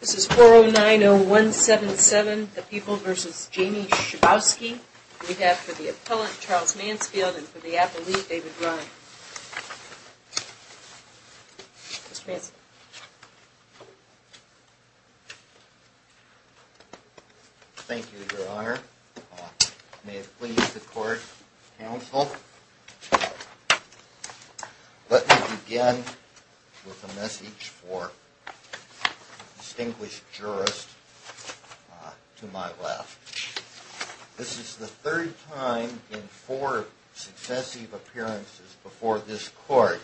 This is 4090177, The People v. Jamie Schabowski. We have for the appellant, Charles Mansfield, and for the appellee, David Ryan. Mr. Mansfield. Thank you, Your Honor. I may have pleased the court counsel. Let me begin with a message for distinguished jurists to my left. This is the third time in four successive appearances before this court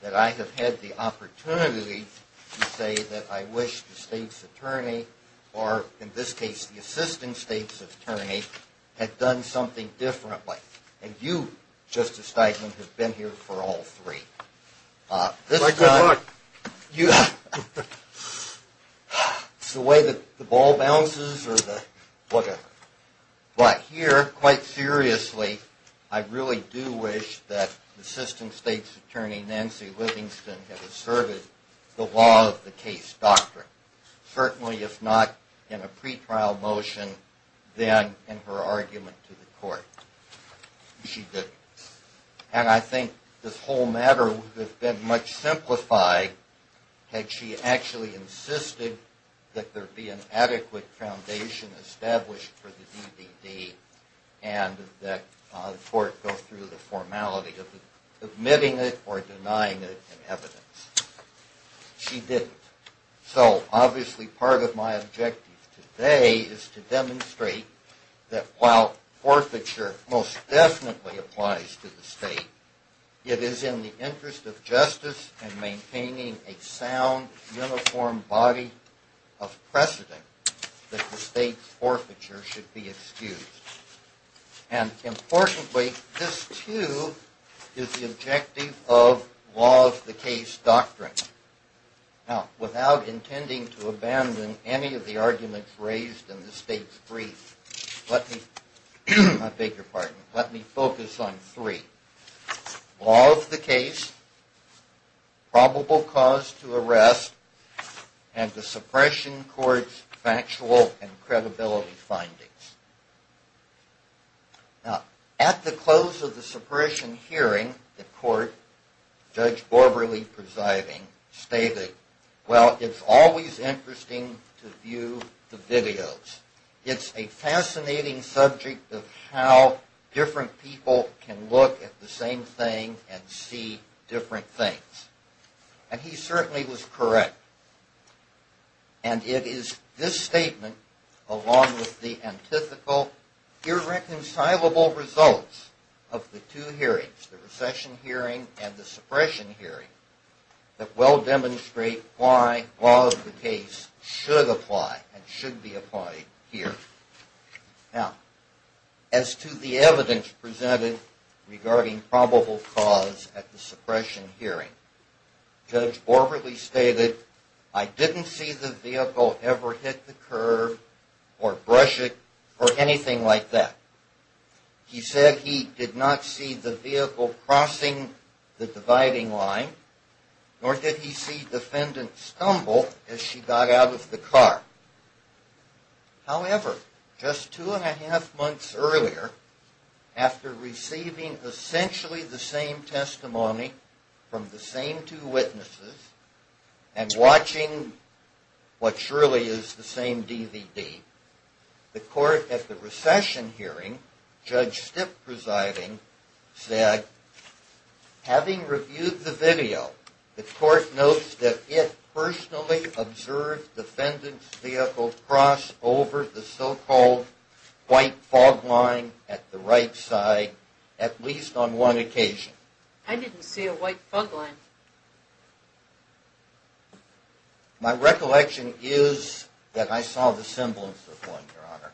that I have had the opportunity to say that I wish the state's attorney, or in this case the assistant state's attorney, had done something differently. And you, Justice Steinman, have been here for all three. This is the way that the ball bounces, or whatever. But here, quite seriously, I really do wish that the assistant state's attorney, Nancy Livingston, had asserted the law of the case doctrine. Certainly, if not in a pretrial motion, then in her argument to the court. She didn't. And I think this whole matter would have been much simplified had she actually insisted that there be an adequate foundation established for the DVD and that the court go through the formality of admitting it or denying it in evidence. She didn't. So, obviously, part of my objective today is to demonstrate that while forfeiture most definitely applies to the state, it is in the interest of justice and maintaining a sound, uniform body of precedent that the state's forfeiture should be excused. And, importantly, this, too, is the objective of law of the case doctrine. Now, without intending to abandon any of the arguments raised in the state's brief, let me focus on three. Law of the case, probable cause to arrest, and the suppression court's factual and credibility findings. Now, at the close of the suppression hearing, the court, Judge Borberle presiding, stated, well, it's always interesting to view the videos. It's a fascinating subject of how different people can look at the same thing and see different things. And he certainly was correct. And it is this statement, along with the antithetical, irreconcilable results of the two hearings, the recession hearing and the suppression hearing, that well demonstrate why law of the case should apply and should be applied here. Now, as to the evidence presented regarding probable cause at the suppression hearing, Judge Borberle stated, I didn't see the vehicle ever hit the curb or brush it or anything like that. He said he did not see the vehicle crossing the dividing line, nor did he see defendant stumble as she got out of the car. However, just two and a half months earlier, after receiving essentially the same testimony from the same two witnesses and watching what surely is the same DVD, the court at the recession hearing, Judge Stipp presiding, said, Having reviewed the video, the court notes that it personally observed defendant's vehicle cross over the so-called white fog line at the right side, at least on one occasion. I didn't see a white fog line. My recollection is that I saw the semblance of one, Your Honor.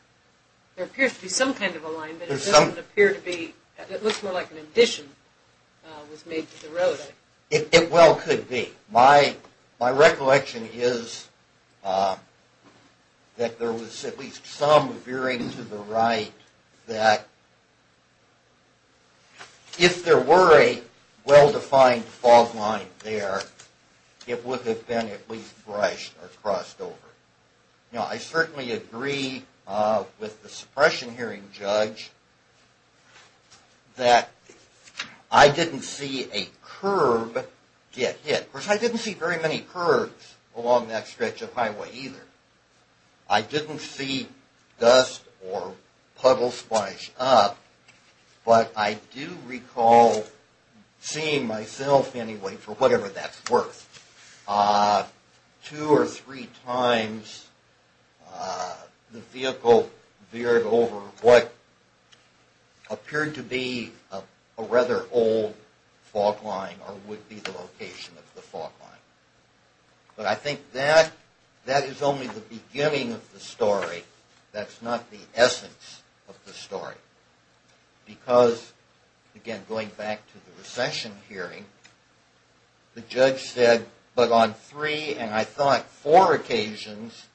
There appears to be some kind of a line, but it doesn't appear to be, it looks more like an addition was made to the road. It well could be. My recollection is that there was at least some veering to the right that if there were a well-defined fog line there, it would have been at least brushed or crossed over. Now, I certainly agree with the suppression hearing judge that I didn't see a curb get hit. Of course, I didn't see very many curbs along that stretch of highway either. I didn't see dust or puddles splash up, but I do recall seeing myself anyway, for whatever that's worth, two or three times the vehicle veered over what appeared to be a rather old fog line or would be the location of the fog line. But I think that is only the beginning of the story. That's not the essence of the story. Because, again, going back to the recession hearing, the judge said, but on three and I thought four occasions,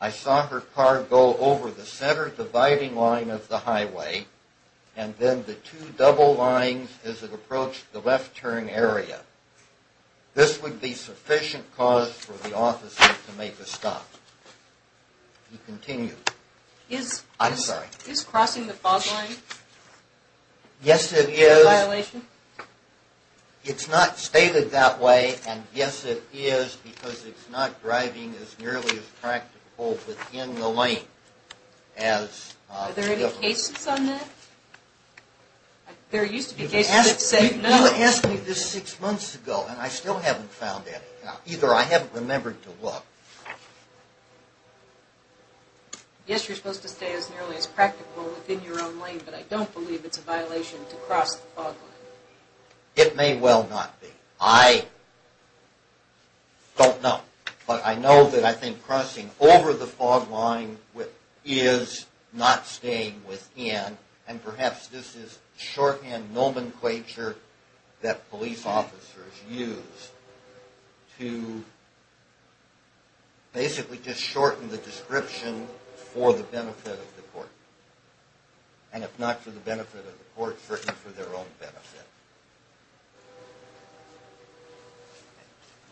I saw her car go over the center dividing line of the highway and then the two double lines as it approached the left turn area. This would be sufficient cause for the officer to make a stop. He continued. I'm sorry. Is crossing the fog line a violation? Yes, it is. It's not stated that way, and yes, it is because it's not driving as nearly as practical within the lane. Are there any cases on that? There used to be cases that said no. You asked me this six months ago, and I still haven't found any. Either I haven't remembered to look. Yes, you're supposed to stay as nearly as practical within your own lane, but I don't believe it's a violation to cross the fog line. It may well not be. I don't know. But I know that I think crossing over the fog line is not staying within, and perhaps this is shorthand nomenclature that police officers use to basically just shorten the description for the benefit of the court. And if not for the benefit of the court, certainly for their own benefit.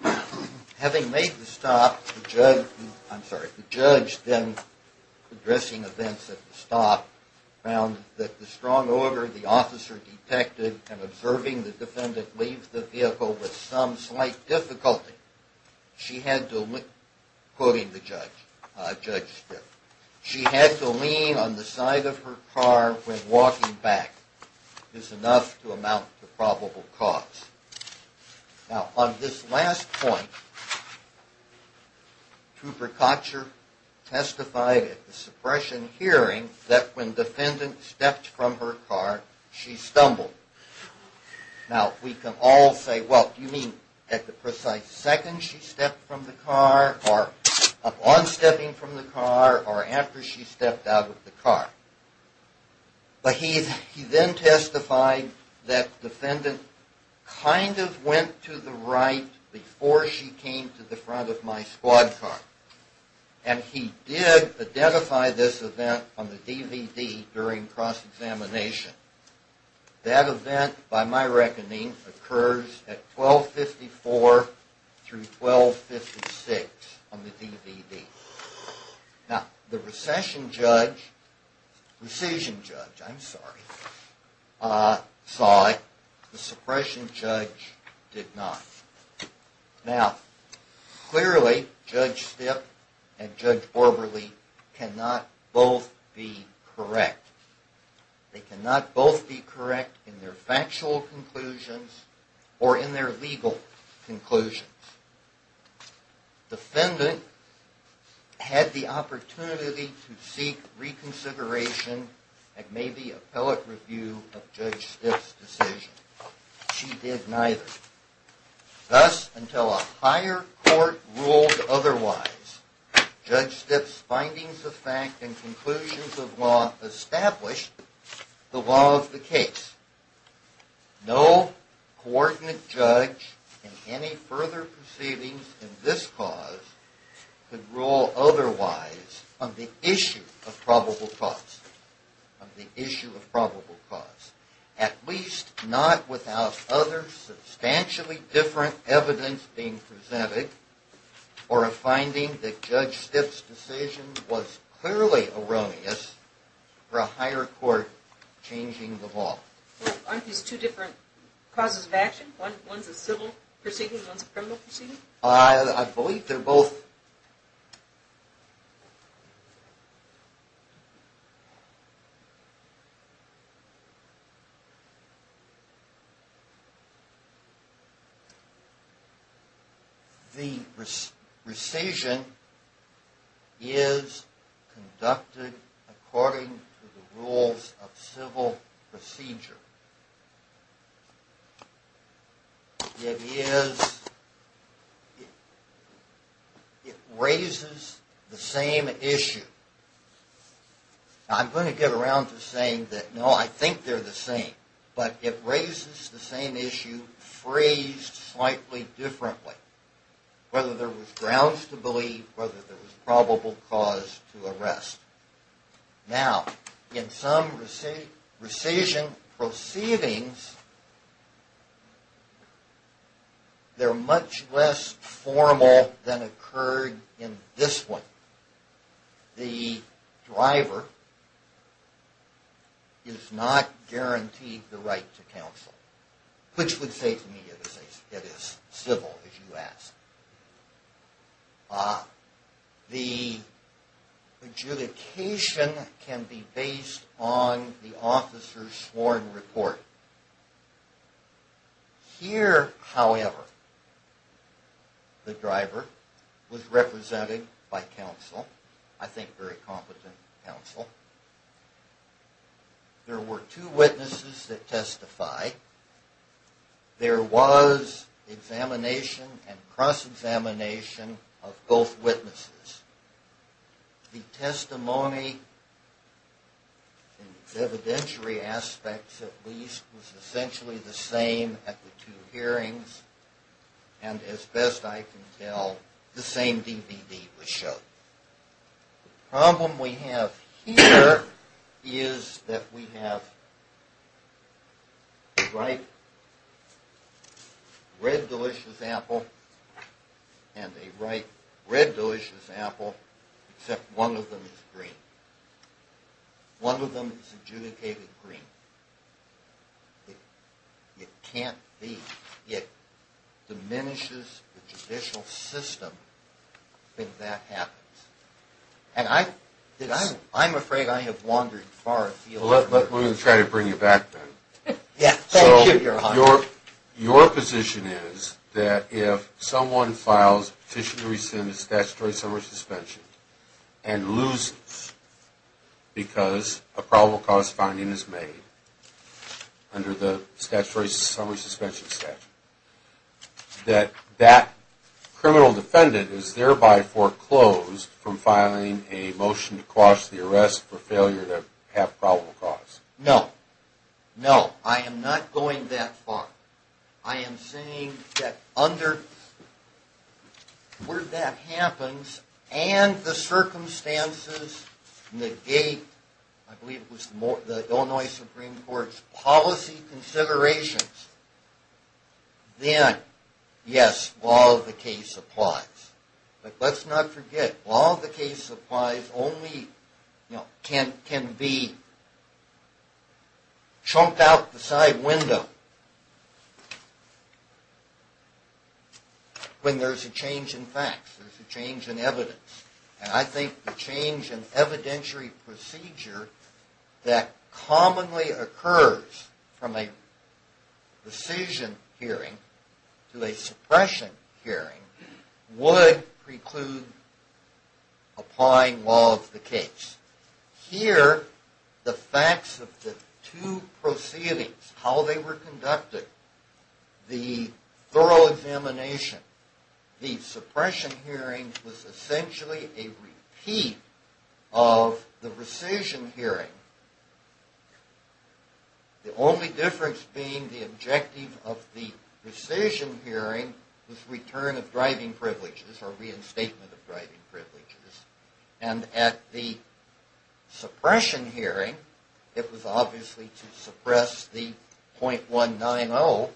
Thank you. Having made the stop, the judge then, addressing events at the stop, found that the strong order the officer detected in observing the defendant leave the vehicle with some slight difficulty. She had to lean on the side of her car when walking back. This is enough to amount to probable cause. Now, on this last point, Cooper Kotcher testified at the suppression hearing that when the defendant stepped from her car, she stumbled. Now, we can all say, well, do you mean at the precise second she stepped from the car, or upon stepping from the car, or after she stepped out of the car? But he then testified that the defendant kind of went to the right before she came to the front of my squad car. And he did identify this event on the DVD during cross-examination. That event, by my reckoning, occurs at 1254 through 1256 on the DVD. Now, the recession judge, recision judge, I'm sorry, saw it. The suppression judge did not. Now, clearly, Judge Stipp and Judge Orberly cannot both be correct. They cannot both be correct in their factual conclusions or in their legal conclusions. The defendant had the opportunity to seek reconsideration and maybe appellate review of Judge Stipp's decision. She did neither. Thus, until a higher court ruled otherwise, Judge Stipp's findings of fact and conclusions of law established the law of the case. No coordinate judge in any further proceedings in this cause could rule otherwise on the issue of probable cause, on the issue of probable cause, at least not without other substantially different evidence being presented or a finding that Judge Stipp's decision was clearly erroneous for a higher court changing the law. Well, aren't these two different causes of action? One's a civil proceeding, one's a criminal proceeding? I believe they're both. The recision is conducted according to the rules of civil procedure. It raises the same issue. I'm going to get around to saying that, no, I think they're the same, but it raises the same issue phrased slightly differently, whether there was grounds to believe, whether there was probable cause to arrest. Now, in some recision proceedings, they're much less formal than occurred in this one. The driver is not guaranteed the right to counsel, which would say to me it is civil, if you ask. The adjudication can be based on the officer's sworn report. Here, however, the driver was represented by counsel, I think very competent counsel. There were two witnesses that testified. There was examination and cross-examination of both witnesses. The testimony, in its evidentiary aspects at least, was essentially the same at the two hearings, and as best I can tell, the same DVD was shown. The problem we have here is that we have a ripe, red delicious apple and a ripe, red delicious apple, except one of them is green. One of them is adjudicated green. It can't be. It diminishes the judicial system if that happens. And I'm afraid I have wandered far afield. Well, let me try to bring you back then. Yes, thank you, Your Honor. So your position is that if someone files petition to rescind his statutory summary suspension and loses because a probable cause finding is made under the statutory summary suspension statute, that that criminal defendant is thereby foreclosed from filing a motion to quash the arrest for failure to have probable cause? No. No, I am not going that far. I am saying that where that happens and the circumstances negate, I believe it was the Illinois Supreme Court's policy considerations, then, yes, law of the case applies. But let's not forget, law of the case applies only, you know, can be chomped out the side window when there's a change in facts, there's a change in evidence. And I think the change in evidentiary procedure that commonly occurs from a decision hearing to a suppression hearing would preclude applying law of the case. Here, the facts of the two proceedings, how they were conducted, the thorough examination, the suppression hearing was essentially a repeat of the rescission hearing. The only difference being the objective of the rescission hearing was return of driving privileges or reinstatement of driving privileges. And at the suppression hearing, it was obviously to suppress the .190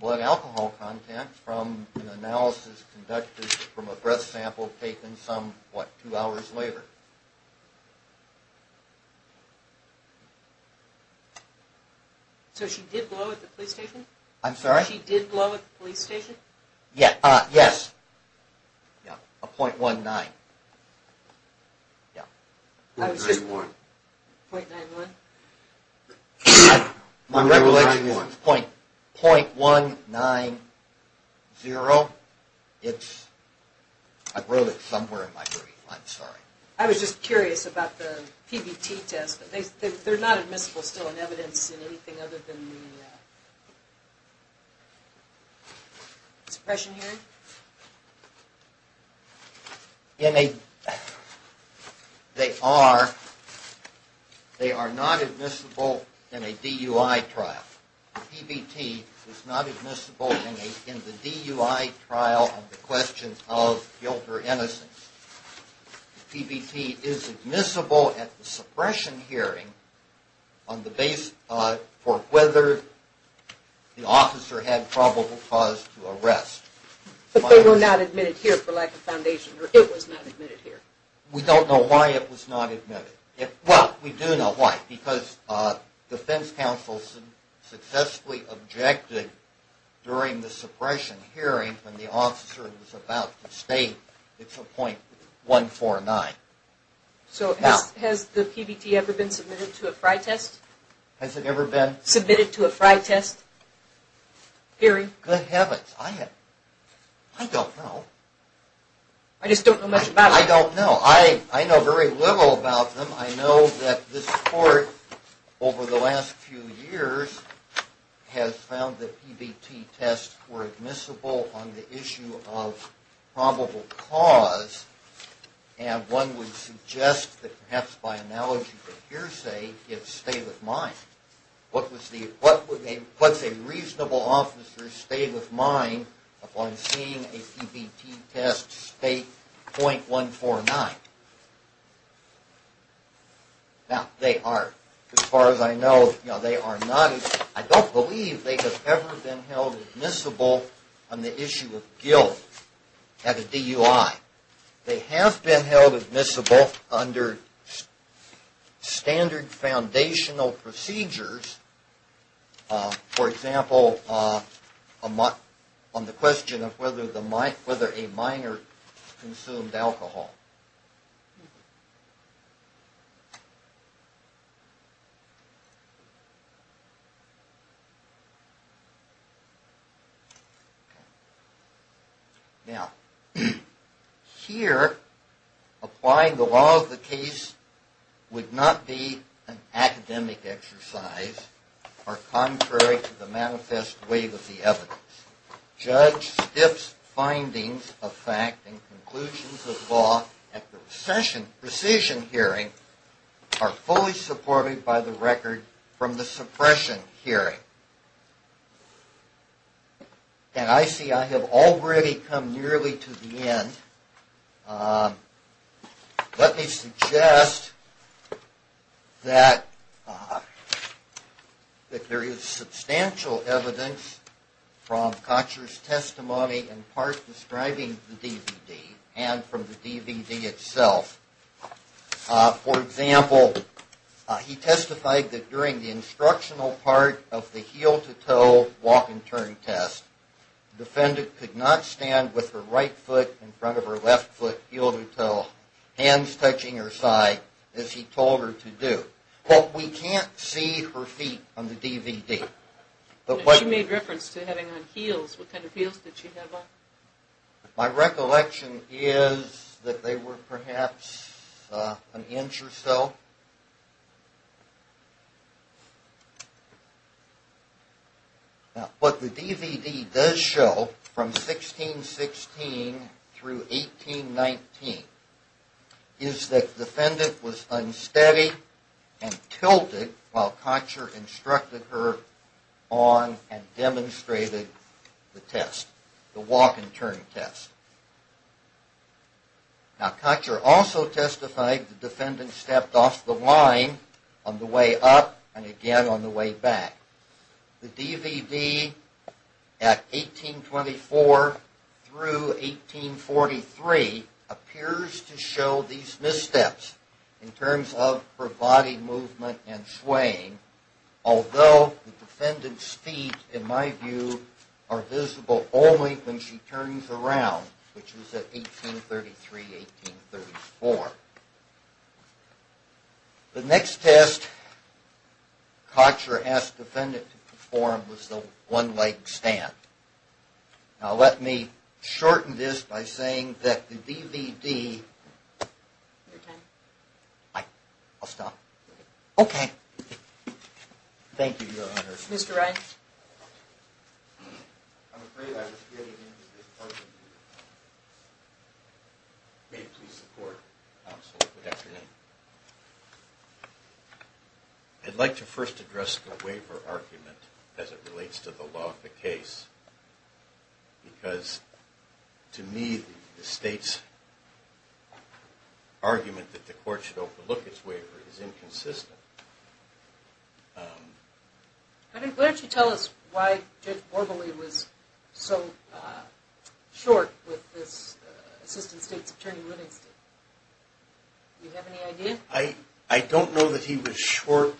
blood alcohol content from an analysis conducted from a breath sample taken some, what, two hours later. So she did blow at the police station? I'm sorry? She did blow at the police station? Yes. A .19. Yeah. .91? My recollection is .190. It's, I wrote it somewhere in my brief, I'm sorry. I was just curious about the PBT test. They're not admissible still in evidence in anything other than the suppression hearing? They are not admissible in a DUI trial. The PBT is not admissible in the DUI trial on the question of guilt or innocence. The PBT is admissible at the suppression hearing on the basis for whether the officer had probable cause to arrest. But they were not admitted here for lack of foundation, or it was not admitted here? We don't know why it was not admitted. Well, we do know why. Because defense counsel successfully objected during the suppression hearing when the officer was about to state it's a .149. So has the PBT ever been submitted to a fry test? Has it ever been? Submitted to a fry test hearing? Good heavens. I don't know. I just don't know much about it. I don't know. Well, I know very little about them. I know that this court, over the last few years, has found that PBT tests were admissible on the issue of probable cause. And one would suggest that perhaps by analogy for hearsay, it's state of mind. What's a reasonable officer's state of mind upon seeing a PBT test state .149? Now, they are. As far as I know, they are not. I don't believe they have ever been held admissible on the issue of guilt at a DUI. They have been held admissible under standard foundational procedures. For example, on the question of whether a minor consumed alcohol. Now, here, applying the law of the case would not be an academic exercise or contrary to the manifest way of the evidence. Judge Stiff's findings of fact and conclusions of law at the precision hearing are fully supported by the record from the suppression hearing. And I see I have already come nearly to the end. Let me suggest that there is substantial evidence from Kotcher's testimony in part describing the DVD and from the DVD itself. For example, he testified that during the instructional part of the heel-to-toe walk-and-turn test, the defendant could not stand with her right foot in front of her left foot, heel-to-toe, hands touching her side as he told her to do. But we can't see her feet on the DVD. She made reference to having on heels. What kind of heels did she have on? My recollection is that they were perhaps an inch or so. What the DVD does show from 1616 through 1819 is that the defendant was unsteady and tilted while Kotcher instructed her on and demonstrated the test. The walk-and-turn test. Now, Kotcher also testified the defendant stepped off the line on the way up and again on the way back. The DVD at 1824 through 1843 appears to show these missteps in terms of her body movement and swaying, although the defendant's feet, in my view, are visible only when she turns around, which was at 1833-1834. The next test Kotcher asked the defendant to perform was the one-legged stand. Now, let me shorten this by saying that the DVD... Hi. I'll stop. Okay. Thank you, Your Honor. Mr. Wright. I'd like to first address the waiver argument as it relates to the law of the case. Because, to me, the state's argument that the court should overlook its waiver is inconsistent. Do you have any idea? I don't know that he was short...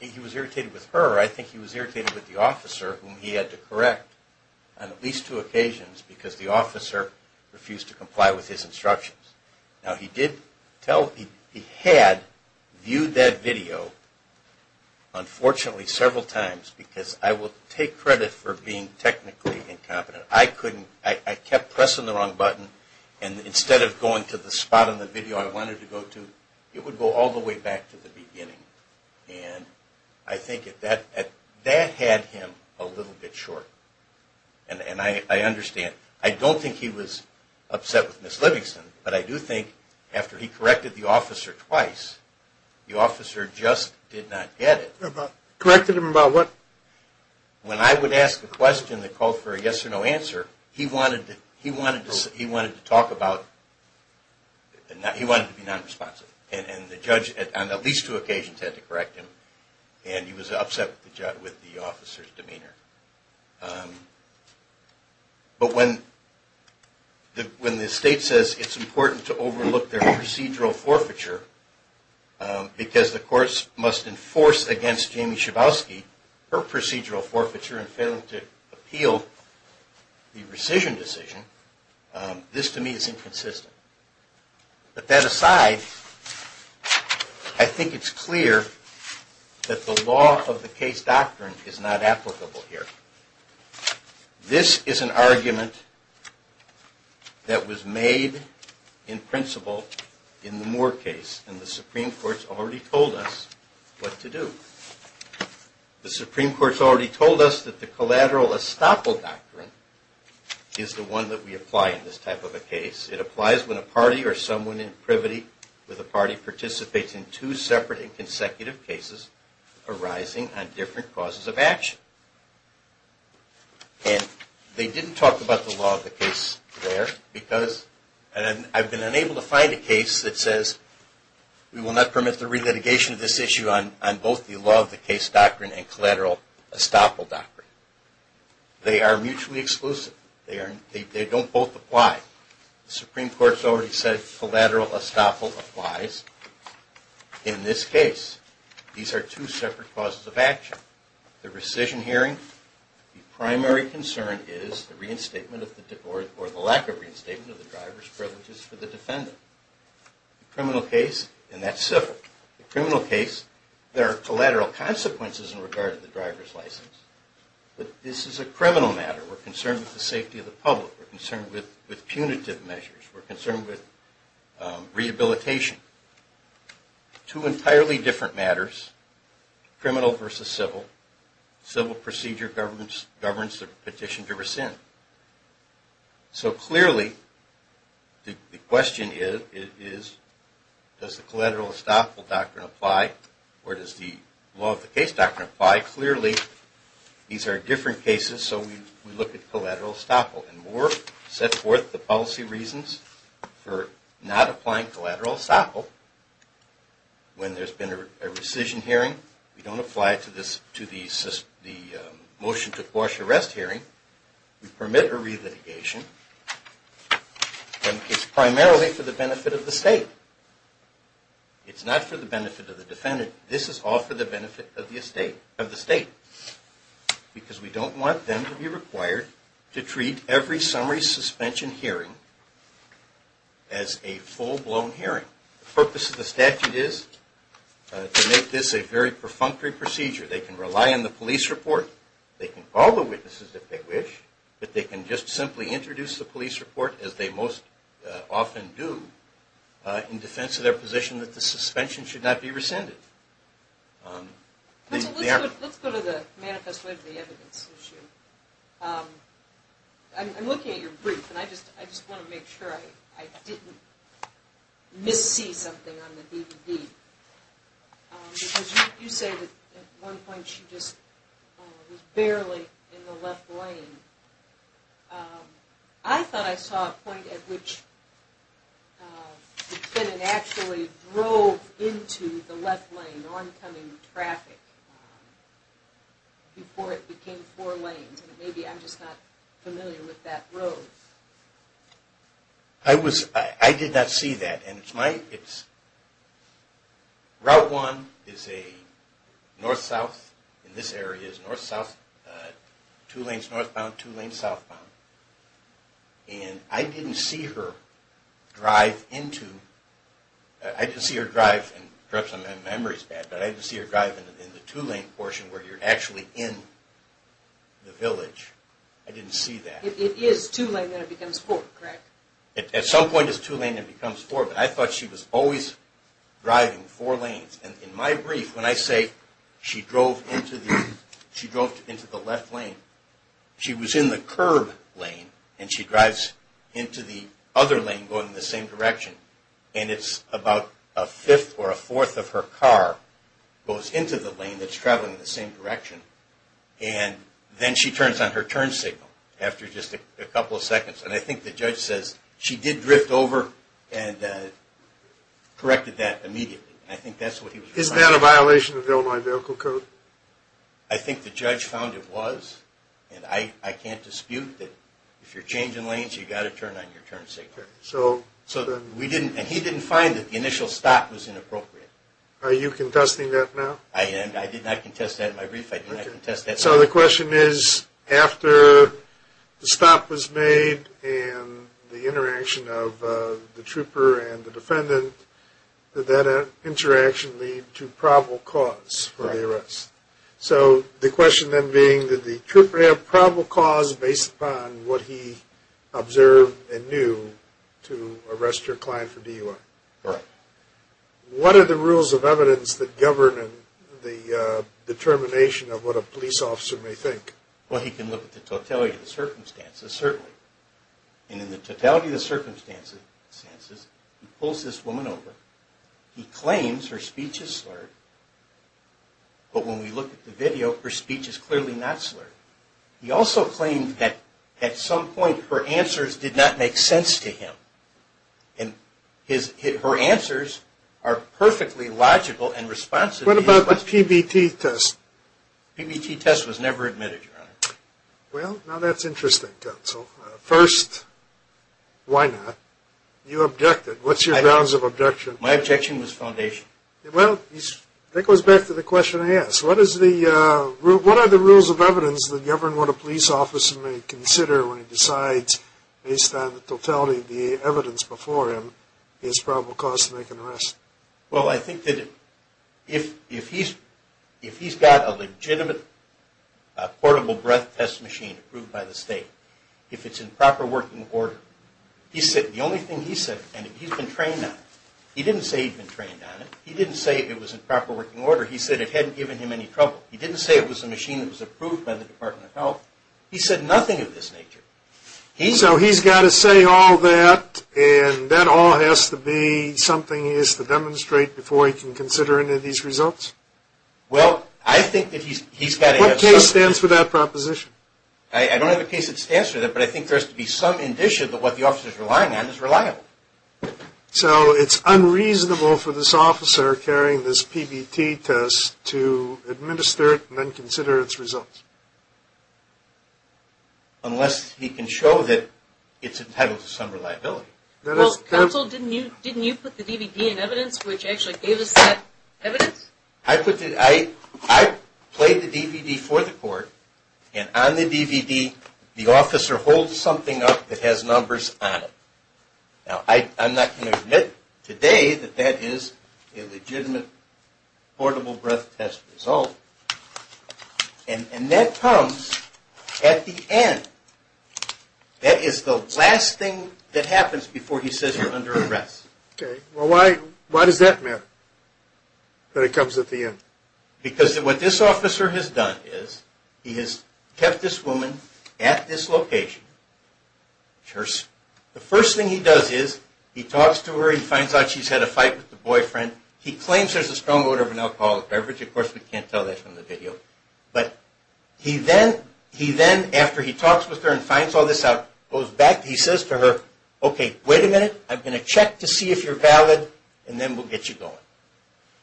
he was irritated with her. I think he was irritated with the officer, whom he had to correct on at least two occasions, because the officer refused to comply with his instructions. Now, he did tell... he had viewed that video, unfortunately, several times, because I will take credit for being technically incompetent. I couldn't... I kept pressing the wrong button, and instead of going to the spot in the video I wanted to go to, it would go all the way back to the beginning. And I think that that had him a little bit short. And I understand. I don't think he was upset with Ms. Livingston, but I do think after he corrected the officer twice, the officer just did not get it. Corrected him about what? When I would ask a question that called for a yes or no answer, he wanted to talk about... he wanted to be non-responsive. And the judge, on at least two occasions, had to correct him, and he was upset with the officer's demeanor. But when the state says it's important to overlook their procedural forfeiture, because the courts must enforce against Jamie Schabowski her procedural forfeiture and failing to appeal the rescission decision, this to me is inconsistent. But that aside, I think it's clear that the law of the case doctrine is not applicable here. This is an argument that was made in principle in the Moore case, and the Supreme Court's already told us what to do. The Supreme Court's already told us that the collateral estoppel doctrine is the one that we apply in this type of a case. It applies when a party or someone in privity with a party participates in two separate and consecutive cases arising on different causes of action. And they didn't talk about the law of the case there, because I've been unable to find a case that says we will not permit the relitigation of this issue on both the law of the case doctrine and collateral estoppel doctrine. They are mutually exclusive. They don't both apply. The Supreme Court's already said collateral estoppel applies in this case. These are two separate causes of action. The rescission hearing, the primary concern is the reinstatement or the lack of reinstatement of the driver's privileges for the defendant. The criminal case, and that's civil. The criminal case, there are collateral consequences in regard to the driver's license. But this is a criminal matter. We're concerned with the safety of the public. We're concerned with punitive measures. We're concerned with rehabilitation. Two entirely different matters, criminal versus civil. Civil procedure governs the petition to rescind. So clearly, the question is, does the collateral estoppel doctrine apply or does the law of the case doctrine apply? Clearly, these are different cases, so we look at collateral estoppel. And Moore set forth the policy reasons for not applying collateral estoppel. When there's been a rescission hearing, we don't apply it to the motion to quash arrest hearing. We permit a re-litigation. And it's primarily for the benefit of the state. It's not for the benefit of the defendant. This is all for the benefit of the state because we don't want them to be required to treat every summary suspension hearing as a full-blown hearing. The purpose of the statute is to make this a very perfunctory procedure. They can rely on the police report. They can call the witnesses if they wish, but they can just simply introduce the police report as they most often do in defense of their position that the suspension should not be rescinded. Let's go to the manifesto of the evidence issue. I'm looking at your brief, and I just want to make sure I didn't missee something on the DVD. You say that at one point she was barely in the left lane. I thought I saw a point at which the defendant actually drove into the left lane, oncoming traffic, before it became four lanes. Maybe I'm just not familiar with that road. I did not see that. Route 1 is north-south. This area is north-south. Two lanes northbound, two lanes southbound. I didn't see her drive into the two-lane portion where you're actually in the village. I didn't see that. It is two-lane, then it becomes four, correct? At some point it's two-lane, then it becomes four, but I thought she was always driving four lanes. In my brief, when I say she drove into the left lane, she was in the curb lane, and she drives into the other lane going in the same direction, and it's about a fifth or a fourth of her car goes into the lane that's traveling in the same direction. Then she turns on her turn signal after just a couple of seconds, and I think the judge says she did drift over and corrected that immediately. I think that's what he was trying to say. Is that a violation of the Illinois Vehicle Code? I think the judge found it was, and I can't dispute that if you're changing lanes, you've got to turn on your turn signal. He didn't find that the initial stop was inappropriate. Are you contesting that now? I am. I did not contest that in my brief. I did not contest that. So the question is, after the stop was made and the interaction of the trooper and the defendant, did that interaction lead to probable cause for the arrest? Right. So the question then being, did the trooper have probable cause based upon what he observed and knew to arrest your client for DUI? Right. What are the rules of evidence that govern the determination of what a police officer may think? Well, he can look at the totality of the circumstances, certainly. And in the totality of the circumstances, he pulls this woman over. He claims her speech is slurred, but when we look at the video, her speech is clearly not slurred. He also claimed that at some point her answers did not make sense to him, and her answers are perfectly logical and responsive. What about the PBT test? PBT test was never admitted, Your Honor. Well, now that's interesting, counsel. First, why not? You objected. What's your grounds of objection? My objection was foundation. Well, that goes back to the question I asked. What are the rules of evidence that govern what a police officer may consider when he decides, based on the totality of the evidence before him, he has probable cause to make an arrest? Well, I think that if he's got a legitimate portable breath test machine approved by the state, if it's in proper working order, the only thing he said, and he's been trained on it, he didn't say he'd been trained on it. He didn't say it was in proper working order. He said it hadn't given him any trouble. He didn't say it was a machine that was approved by the Department of Health. He said nothing of this nature. So he's got to say all that, and that all has to be something he has to demonstrate before he can consider any of these results? Well, I think that he's got to have some indication. What case stands for that proposition? I don't have a case that stands for that, but I think there has to be some indication that what the officer is relying on is reliable. So it's unreasonable for this officer carrying this PBT test to administer it and then consider its results? Unless he can show that it's entitled to some reliability. Counsel, didn't you put the DVD in evidence, which actually gave us that evidence? I played the DVD for the court, and on the DVD the officer holds something up that has numbers on it. Now, I'm not going to admit today that that is a legitimate portable breath test result, and that comes at the end. That is the last thing that happens before he says you're under arrest. Well, why does that matter, that it comes at the end? Because what this officer has done is he has kept this woman at this location. The first thing he does is he talks to her, he finds out she's had a fight with the boyfriend. He claims there's a strong odor of an alcoholic beverage. Of course, we can't tell that from the video. But he then, after he talks with her and finds all this out, goes back. He says to her, okay, wait a minute. I'm going to check to see if you're valid, and then we'll get you going.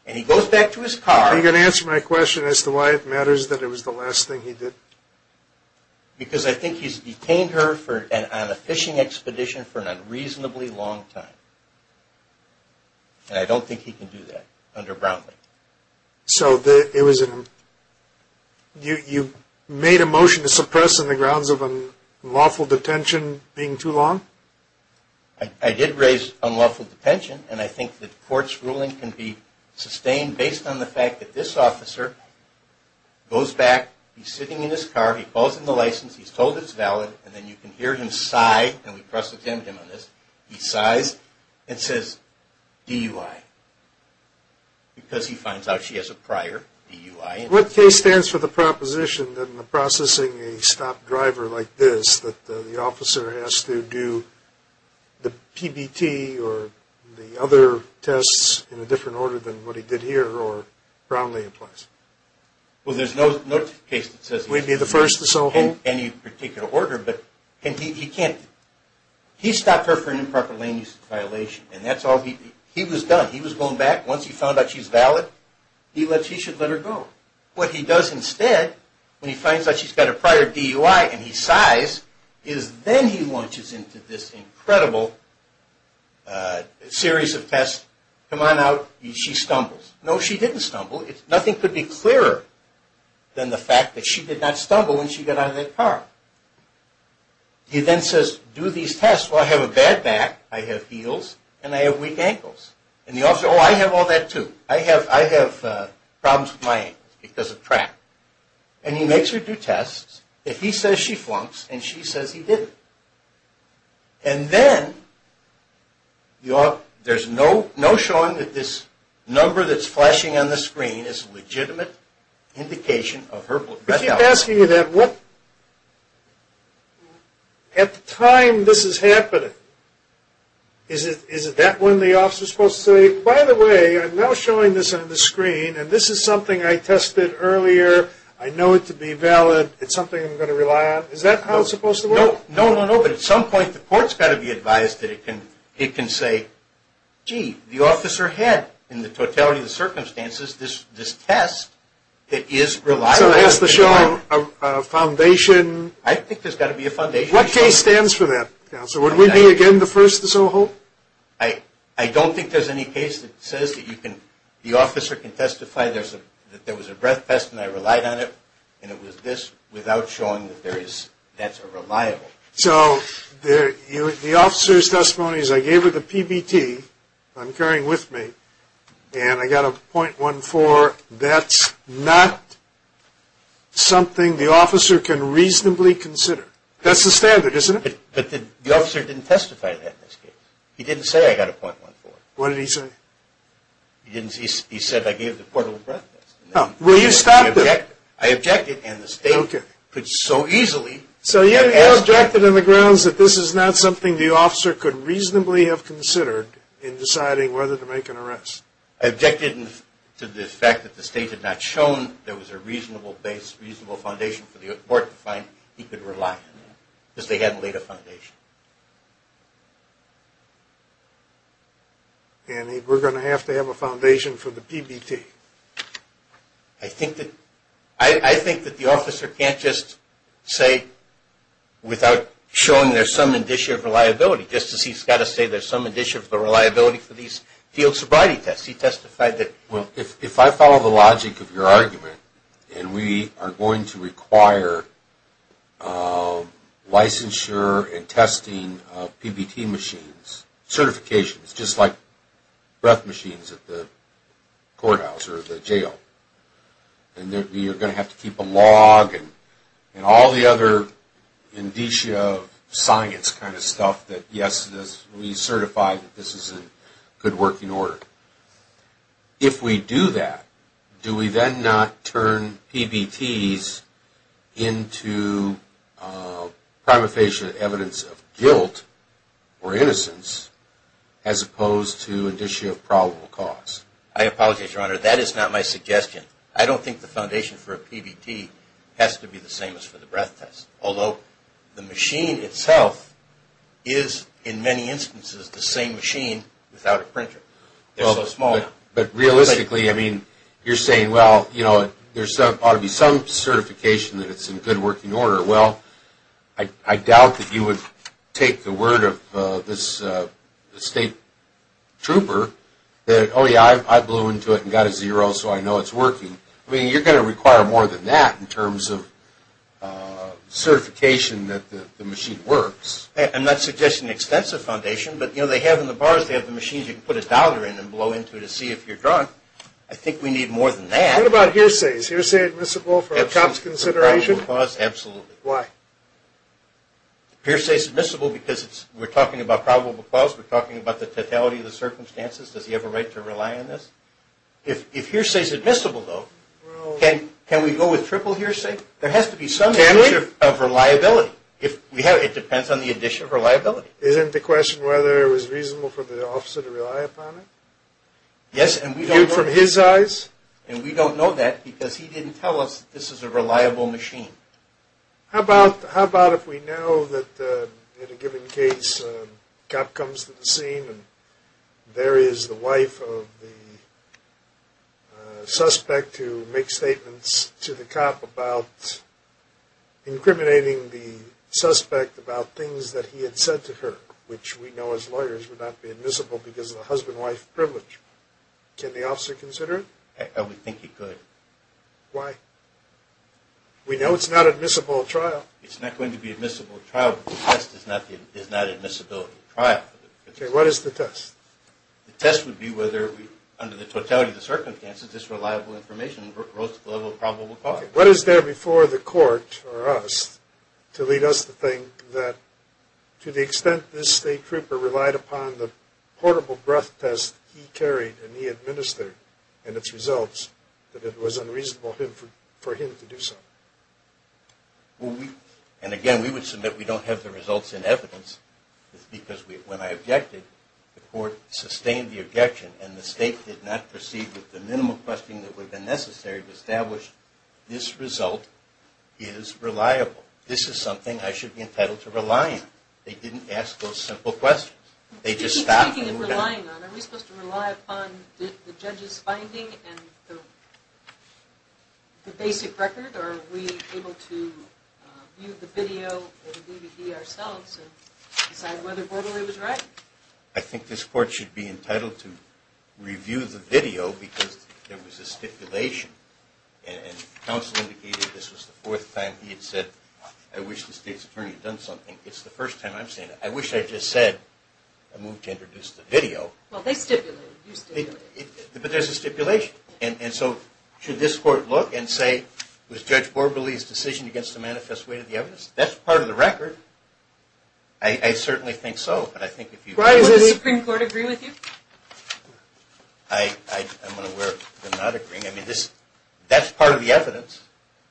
And he goes back to his car. Are you going to answer my question as to why it matters that it was the last thing he did? Because I think he's detained her on a fishing expedition for an unreasonably long time. And I don't think he can do that under Brownlee. So you made a motion to suppress on the grounds of unlawful detention being too long? I did raise unlawful detention, and I think the court's ruling can be sustained based on the fact that this officer goes back, he's sitting in his car, he calls in the license, he's told it's valid, and then you can hear him sigh, and we cross-examined him on this. He sighs and says DUI, because he finds out she has a prior DUI. What case stands for the proposition that in the processing a stopped driver like this, that the officer has to do the PBT or the other tests in a different order than what he did here, or Brownlee implies? Well, there's no case that says he can do any particular order, but he can't. He stopped her for an improper lane use violation, and that's all he did. He was done. He was going back. Once he found out she's valid, he should let her go. What he does instead, when he finds out she's got a prior DUI and he sighs, is then he launches into this incredible series of tests. Come on out. She stumbles. No, she didn't stumble. Nothing could be clearer than the fact that she did not stumble when she got out of that car. He then says, do these tests. Well, I have a bad back, I have heels, and I have weak ankles. And the officer, oh, I have all that too. I have problems with my ankles because of track. And he makes her do tests. If he says she flunks and she says he didn't. And then there's no showing that this number that's flashing on the screen is a legitimate indication of her blood health. I keep asking you that. At the time this is happening, is it that when the officer is supposed to say, by the way, I'm now showing this on the screen, and this is something I tested earlier, I know it to be valid, it's something I'm going to rely on? Is that how it's supposed to work? No, no, no. But at some point the court's got to be advised that it can say, gee, the officer had, in the totality of the circumstances, this test that is reliable. So that's to show a foundation. I think there's got to be a foundation. What case stands for that, Counselor? Would we be, again, the first to so hope? I don't think there's any case that says that the officer can testify that there was a breath test and I relied on it and it was this without showing that that's reliable. So the officer's testimony is I gave her the PBT, if I'm carrying with me, and I got a .14, that's not something the officer can reasonably consider. That's the standard, isn't it? But the officer didn't testify to that in this case. He didn't say I got a .14. What did he say? He said I gave the portable breath test. Well, you stopped him. I objected, and the state could so easily. So you objected on the grounds that this is not something the officer could reasonably have considered in deciding whether to make an arrest. I objected to the fact that the state had not shown there was a reasonable base, reasonable foundation for the court to find he could rely on because they hadn't laid a foundation. And we're going to have to have a foundation for the PBT. I think that the officer can't just say without showing there's some indicia of reliability. Just as he's got to say there's some indicia of the reliability for these field sobriety tests. He testified that. Well, if I follow the logic of your argument, and we are going to require licensure and testing of PBT machines, certifications, just like breath machines at the courthouse or the jail, and you're going to have to keep a log and all the other indicia of science kind of stuff, that yes, we certify that this is in good working order. If we do that, do we then not turn PBTs into prima facie evidence of guilt or innocence as opposed to indicia of probable cause? I apologize, Your Honor. That is not my suggestion. I don't think the foundation for a PBT has to be the same as for the breath test, although the machine itself is in many instances the same machine without a printer. It's so small now. But realistically, I mean, you're saying, well, you know, there ought to be some certification that it's in good working order. Well, I doubt that you would take the word of this state trooper that, oh, yeah, I blew into it and got a zero, so I know it's working. I mean, you're going to require more than that in terms of certification that the machine works. I'm not suggesting extensive foundation, but, you know, they have in the bars, they have the machines you can put a dollar in and blow into to see if you're drunk. I think we need more than that. What about hearsays? Hearsay admissible for a cop's consideration? Absolutely. Why? Hearsay is admissible because we're talking about probable cause. We're talking about the totality of the circumstances. Does he have a right to rely on this? If hearsay is admissible, though, can we go with triple hearsay? There has to be some measure of reliability. It depends on the addition of reliability. Isn't the question whether it was reasonable for the officer to rely upon it? Yes, and we don't know. Viewed from his eyes? And we don't know that because he didn't tell us this is a reliable machine. How about if we know that in a given case, a cop comes to the scene and there is the wife of the suspect who makes statements to the cop about incriminating the suspect about things that he had said to her, which we know as lawyers would not be admissible because of the husband-wife privilege. Can the officer consider it? I would think he could. Why? We know it's not admissible at trial. It's not going to be admissible at trial because the test is not admissibility at trial. Okay, what is the test? The test would be whether, under the totality of the circumstances, this reliable information rose to the level of probable cause. What is there before the court or us to lead us to think that to the extent this state trooper relied upon the portable breath test he carried and he administered and its results, that it was unreasonable for him to do so? And again, we would submit we don't have the results and evidence because when I objected, the court sustained the objection and the state did not proceed with the minimum questioning that would have been necessary to establish this result is reliable. This is something I should be entitled to rely on. They didn't ask those simple questions. Are we supposed to rely upon the judge's finding and the basic record or are we able to view the video or the DVD ourselves and decide whether Bordoli was right? I think this court should be entitled to review the video because there was a stipulation and counsel indicated this was the fourth time he had said, I wish the state's attorney had done something. It's the first time I'm saying that. I wish I had just said I moved to introduce the video. Well, they stipulated. You stipulated. But there's a stipulation. And so should this court look and say, was Judge Bordoli's decision against the manifest weight of the evidence? That's part of the record. I certainly think so. Why doesn't the Supreme Court agree with you? I'm unaware of them not agreeing. I mean, that's part of the evidence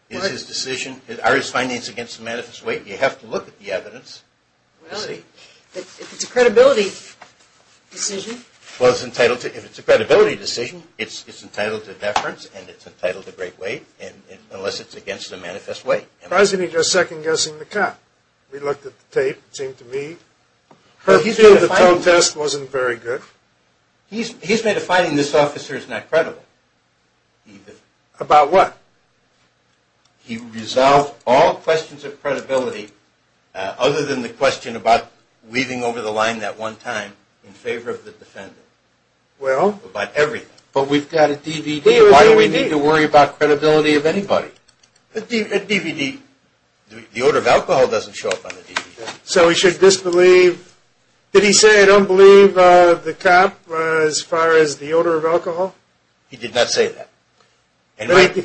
is his decision. Are his findings against the manifest weight? You have to look at the evidence to see. Well, if it's a credibility decision. Well, if it's a credibility decision, it's entitled to deference and it's entitled to great weight unless it's against the manifest weight. Why isn't he just second-guessing the cop? We looked at the tape. It seemed to me her view of the film test wasn't very good. He's made a finding this officer is not credible. About what? He resolved all questions of credibility other than the question about weaving over the line that one time in favor of the defendant. Well? About everything. But we've got a DVD. Why do we need to worry about credibility of anybody? A DVD. The odor of alcohol doesn't show up on the DVD. So he should disbelieve. Did he say, I don't believe the cop as far as the odor of alcohol? He did not say that.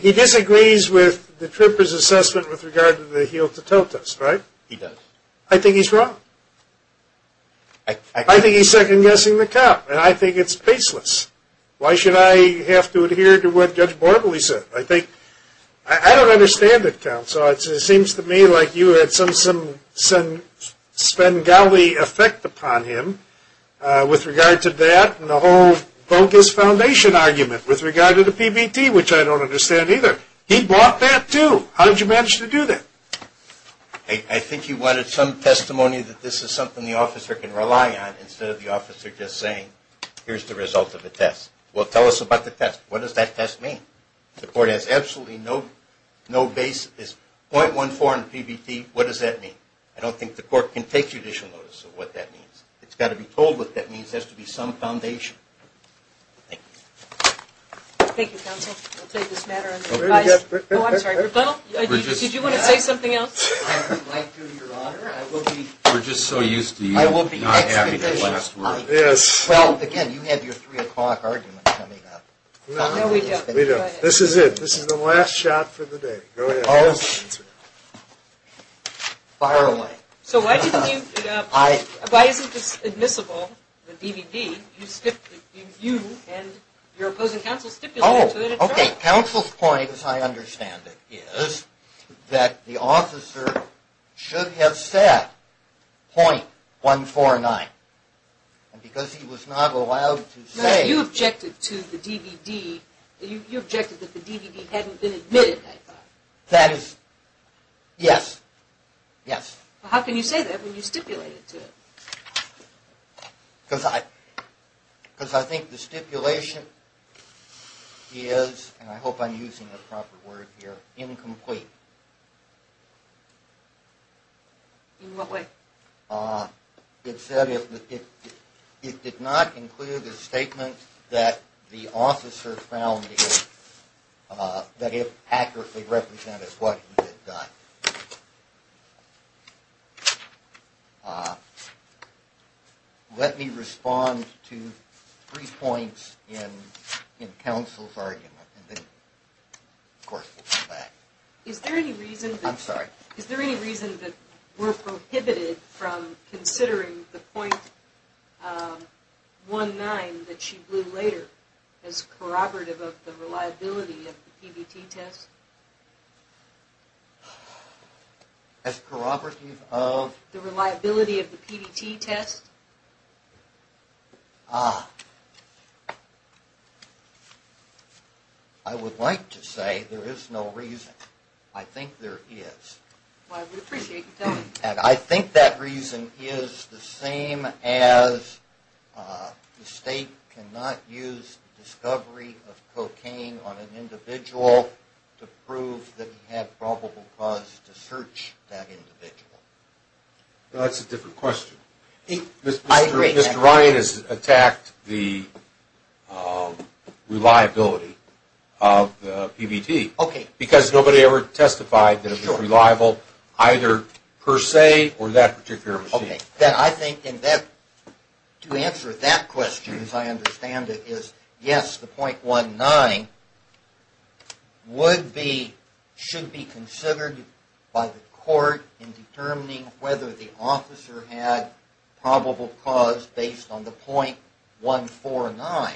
He disagrees with the tripper's assessment with regard to the heel-to-toe test, right? He does. I think he's wrong. I think he's second-guessing the cop, and I think it's faceless. Why should I have to adhere to what Judge Borbley said? I don't understand it, counsel. It seems to me like you had some Svengali effect upon him with regard to that and the whole bogus foundation argument with regard to the PBT, which I don't understand either. He bought that too. How did you manage to do that? I think he wanted some testimony that this is something the officer can rely on instead of the officer just saying, here's the result of the test. Well, tell us about the test. What does that test mean? The court has absolutely no basis. 0.14 in PBT, what does that mean? I don't think the court can take judicial notice of what that means. It's got to be told what that means. It has to be some foundation. Thank you. Thank you, counsel. I'll take this matter under advice. Oh, I'm sorry. Rebuttal? Did you want to say something else? I would like to, Your Honor. We're just so used to you not having the last word. Yes. Well, again, you have your 3 o'clock argument coming up. No, we don't. This is it. This is the last shot for the day. Go ahead. Fire away. So why isn't this admissible, the DVD? You and your opposing counsel stipulated it. Oh, okay. Counsel's point, as I understand it, is that the officer should have said 0.149. And because he was not allowed to say it. You objected to the DVD. You objected that the DVD hadn't been admitted, I thought. That is, yes, yes. How can you say that when you stipulated to it? Because I think the stipulation is, and I hope I'm using the proper word here, incomplete. In what way? It said it did not include a statement that the officer found that it accurately represented what he had done. Let me respond to three points in counsel's argument, and then, of course, we'll come back. Is there any reason that we're prohibited from considering the 0.19 that she blew later as corroborative of the reliability of the PBT test? As corroborative of? The reliability of the PBT test. Ah. I would like to say there is no reason. I think there is. Well, I would appreciate you telling me that. I think that reason is the same as the state cannot use discovery of cocaine on an individual to prove that he had probable cause to search that individual. That's a different question. I agree. Mr. Ryan has attacked the reliability of the PBT. Okay. Because nobody ever testified that it was reliable either per se or that particular machine. To answer that question, as I understand it, is yes, the 0.19 should be considered by the court in determining whether the officer had probable cause based on the 0.149.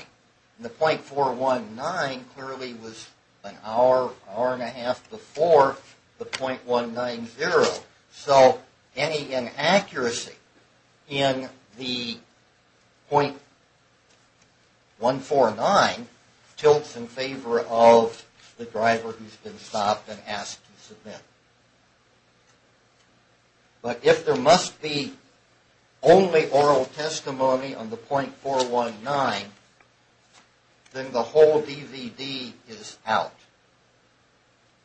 The 0.419 clearly was an hour, hour and a half before the 0.190. So any inaccuracy in the 0.149 tilts in favor of the driver who has been stopped and asked to submit. But if there must be only oral testimony on the 0.419, then the whole DVD is out.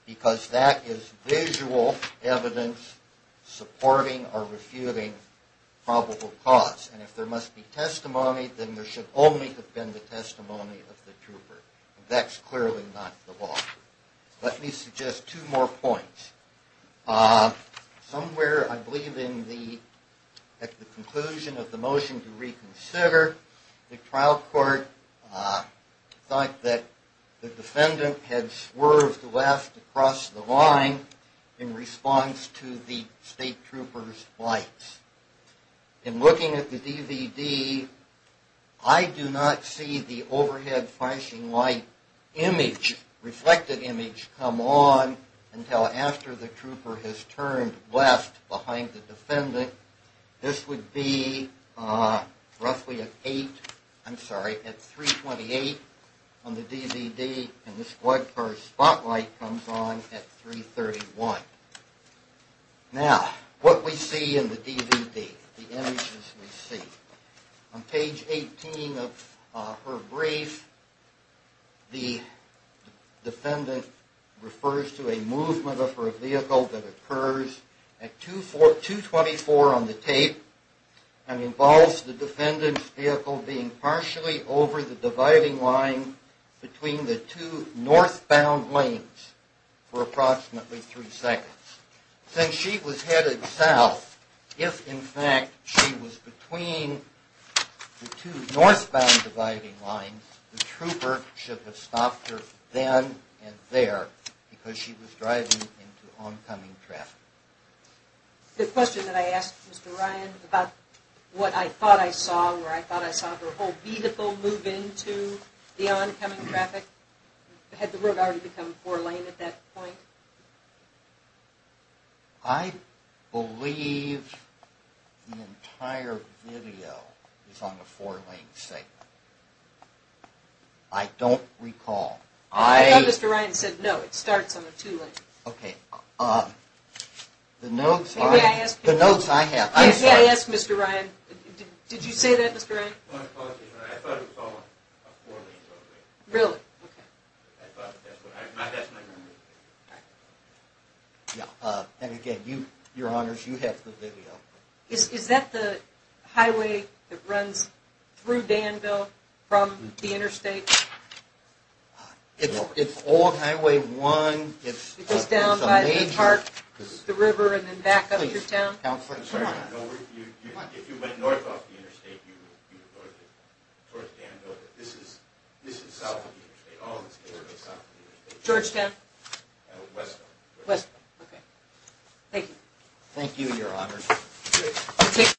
Because that is visual evidence supporting or refuting probable cause. And if there must be testimony, then there should only have been the testimony of the trooper. That's clearly not the law. Let me suggest two more points. Somewhere, I believe, at the conclusion of the motion to reconsider, the trial court thought that the defendant had swerved left across the line in response to the state trooper's lights. In looking at the DVD, I do not see the overhead flashing light image, reflected image, come on until after the trooper has turned left behind the defendant. This would be roughly at 8, I'm sorry, at 328 on the DVD and the squad car spotlight comes on at 331. Now, what we see in the DVD, the images we see. On page 18 of her brief, the defendant refers to a movement of her vehicle that occurs at 224 on the tape and involves the defendant's vehicle being partially over the dividing line between the two northbound lanes for approximately three seconds. Since she was headed south, if in fact she was between the two northbound dividing lines, the trooper should have stopped her then and there because she was driving into oncoming traffic. The question that I asked Mr. Ryan about what I thought I saw, where I thought I saw her whole vehicle move into the oncoming traffic. Had the road already become four lane at that point? I believe the entire video is on the four lane segment. I don't recall. Mr. Ryan said no, it starts on the two lane. The notes I have, I'm sorry. I asked Mr. Ryan, did you say that Mr. Ryan? I thought it was on a four lane road. Really? I thought that's what I, that's my memory. And again, your honors, you have the video. Is that the highway that runs through Danville from the interstate? It's all highway one. It goes down by the park, the river, and then back up through town? If you went north off the interstate, you would go to Danville. This is south of the interstate. Georgetown? West. West, okay. Thank you. Thank you, your honors.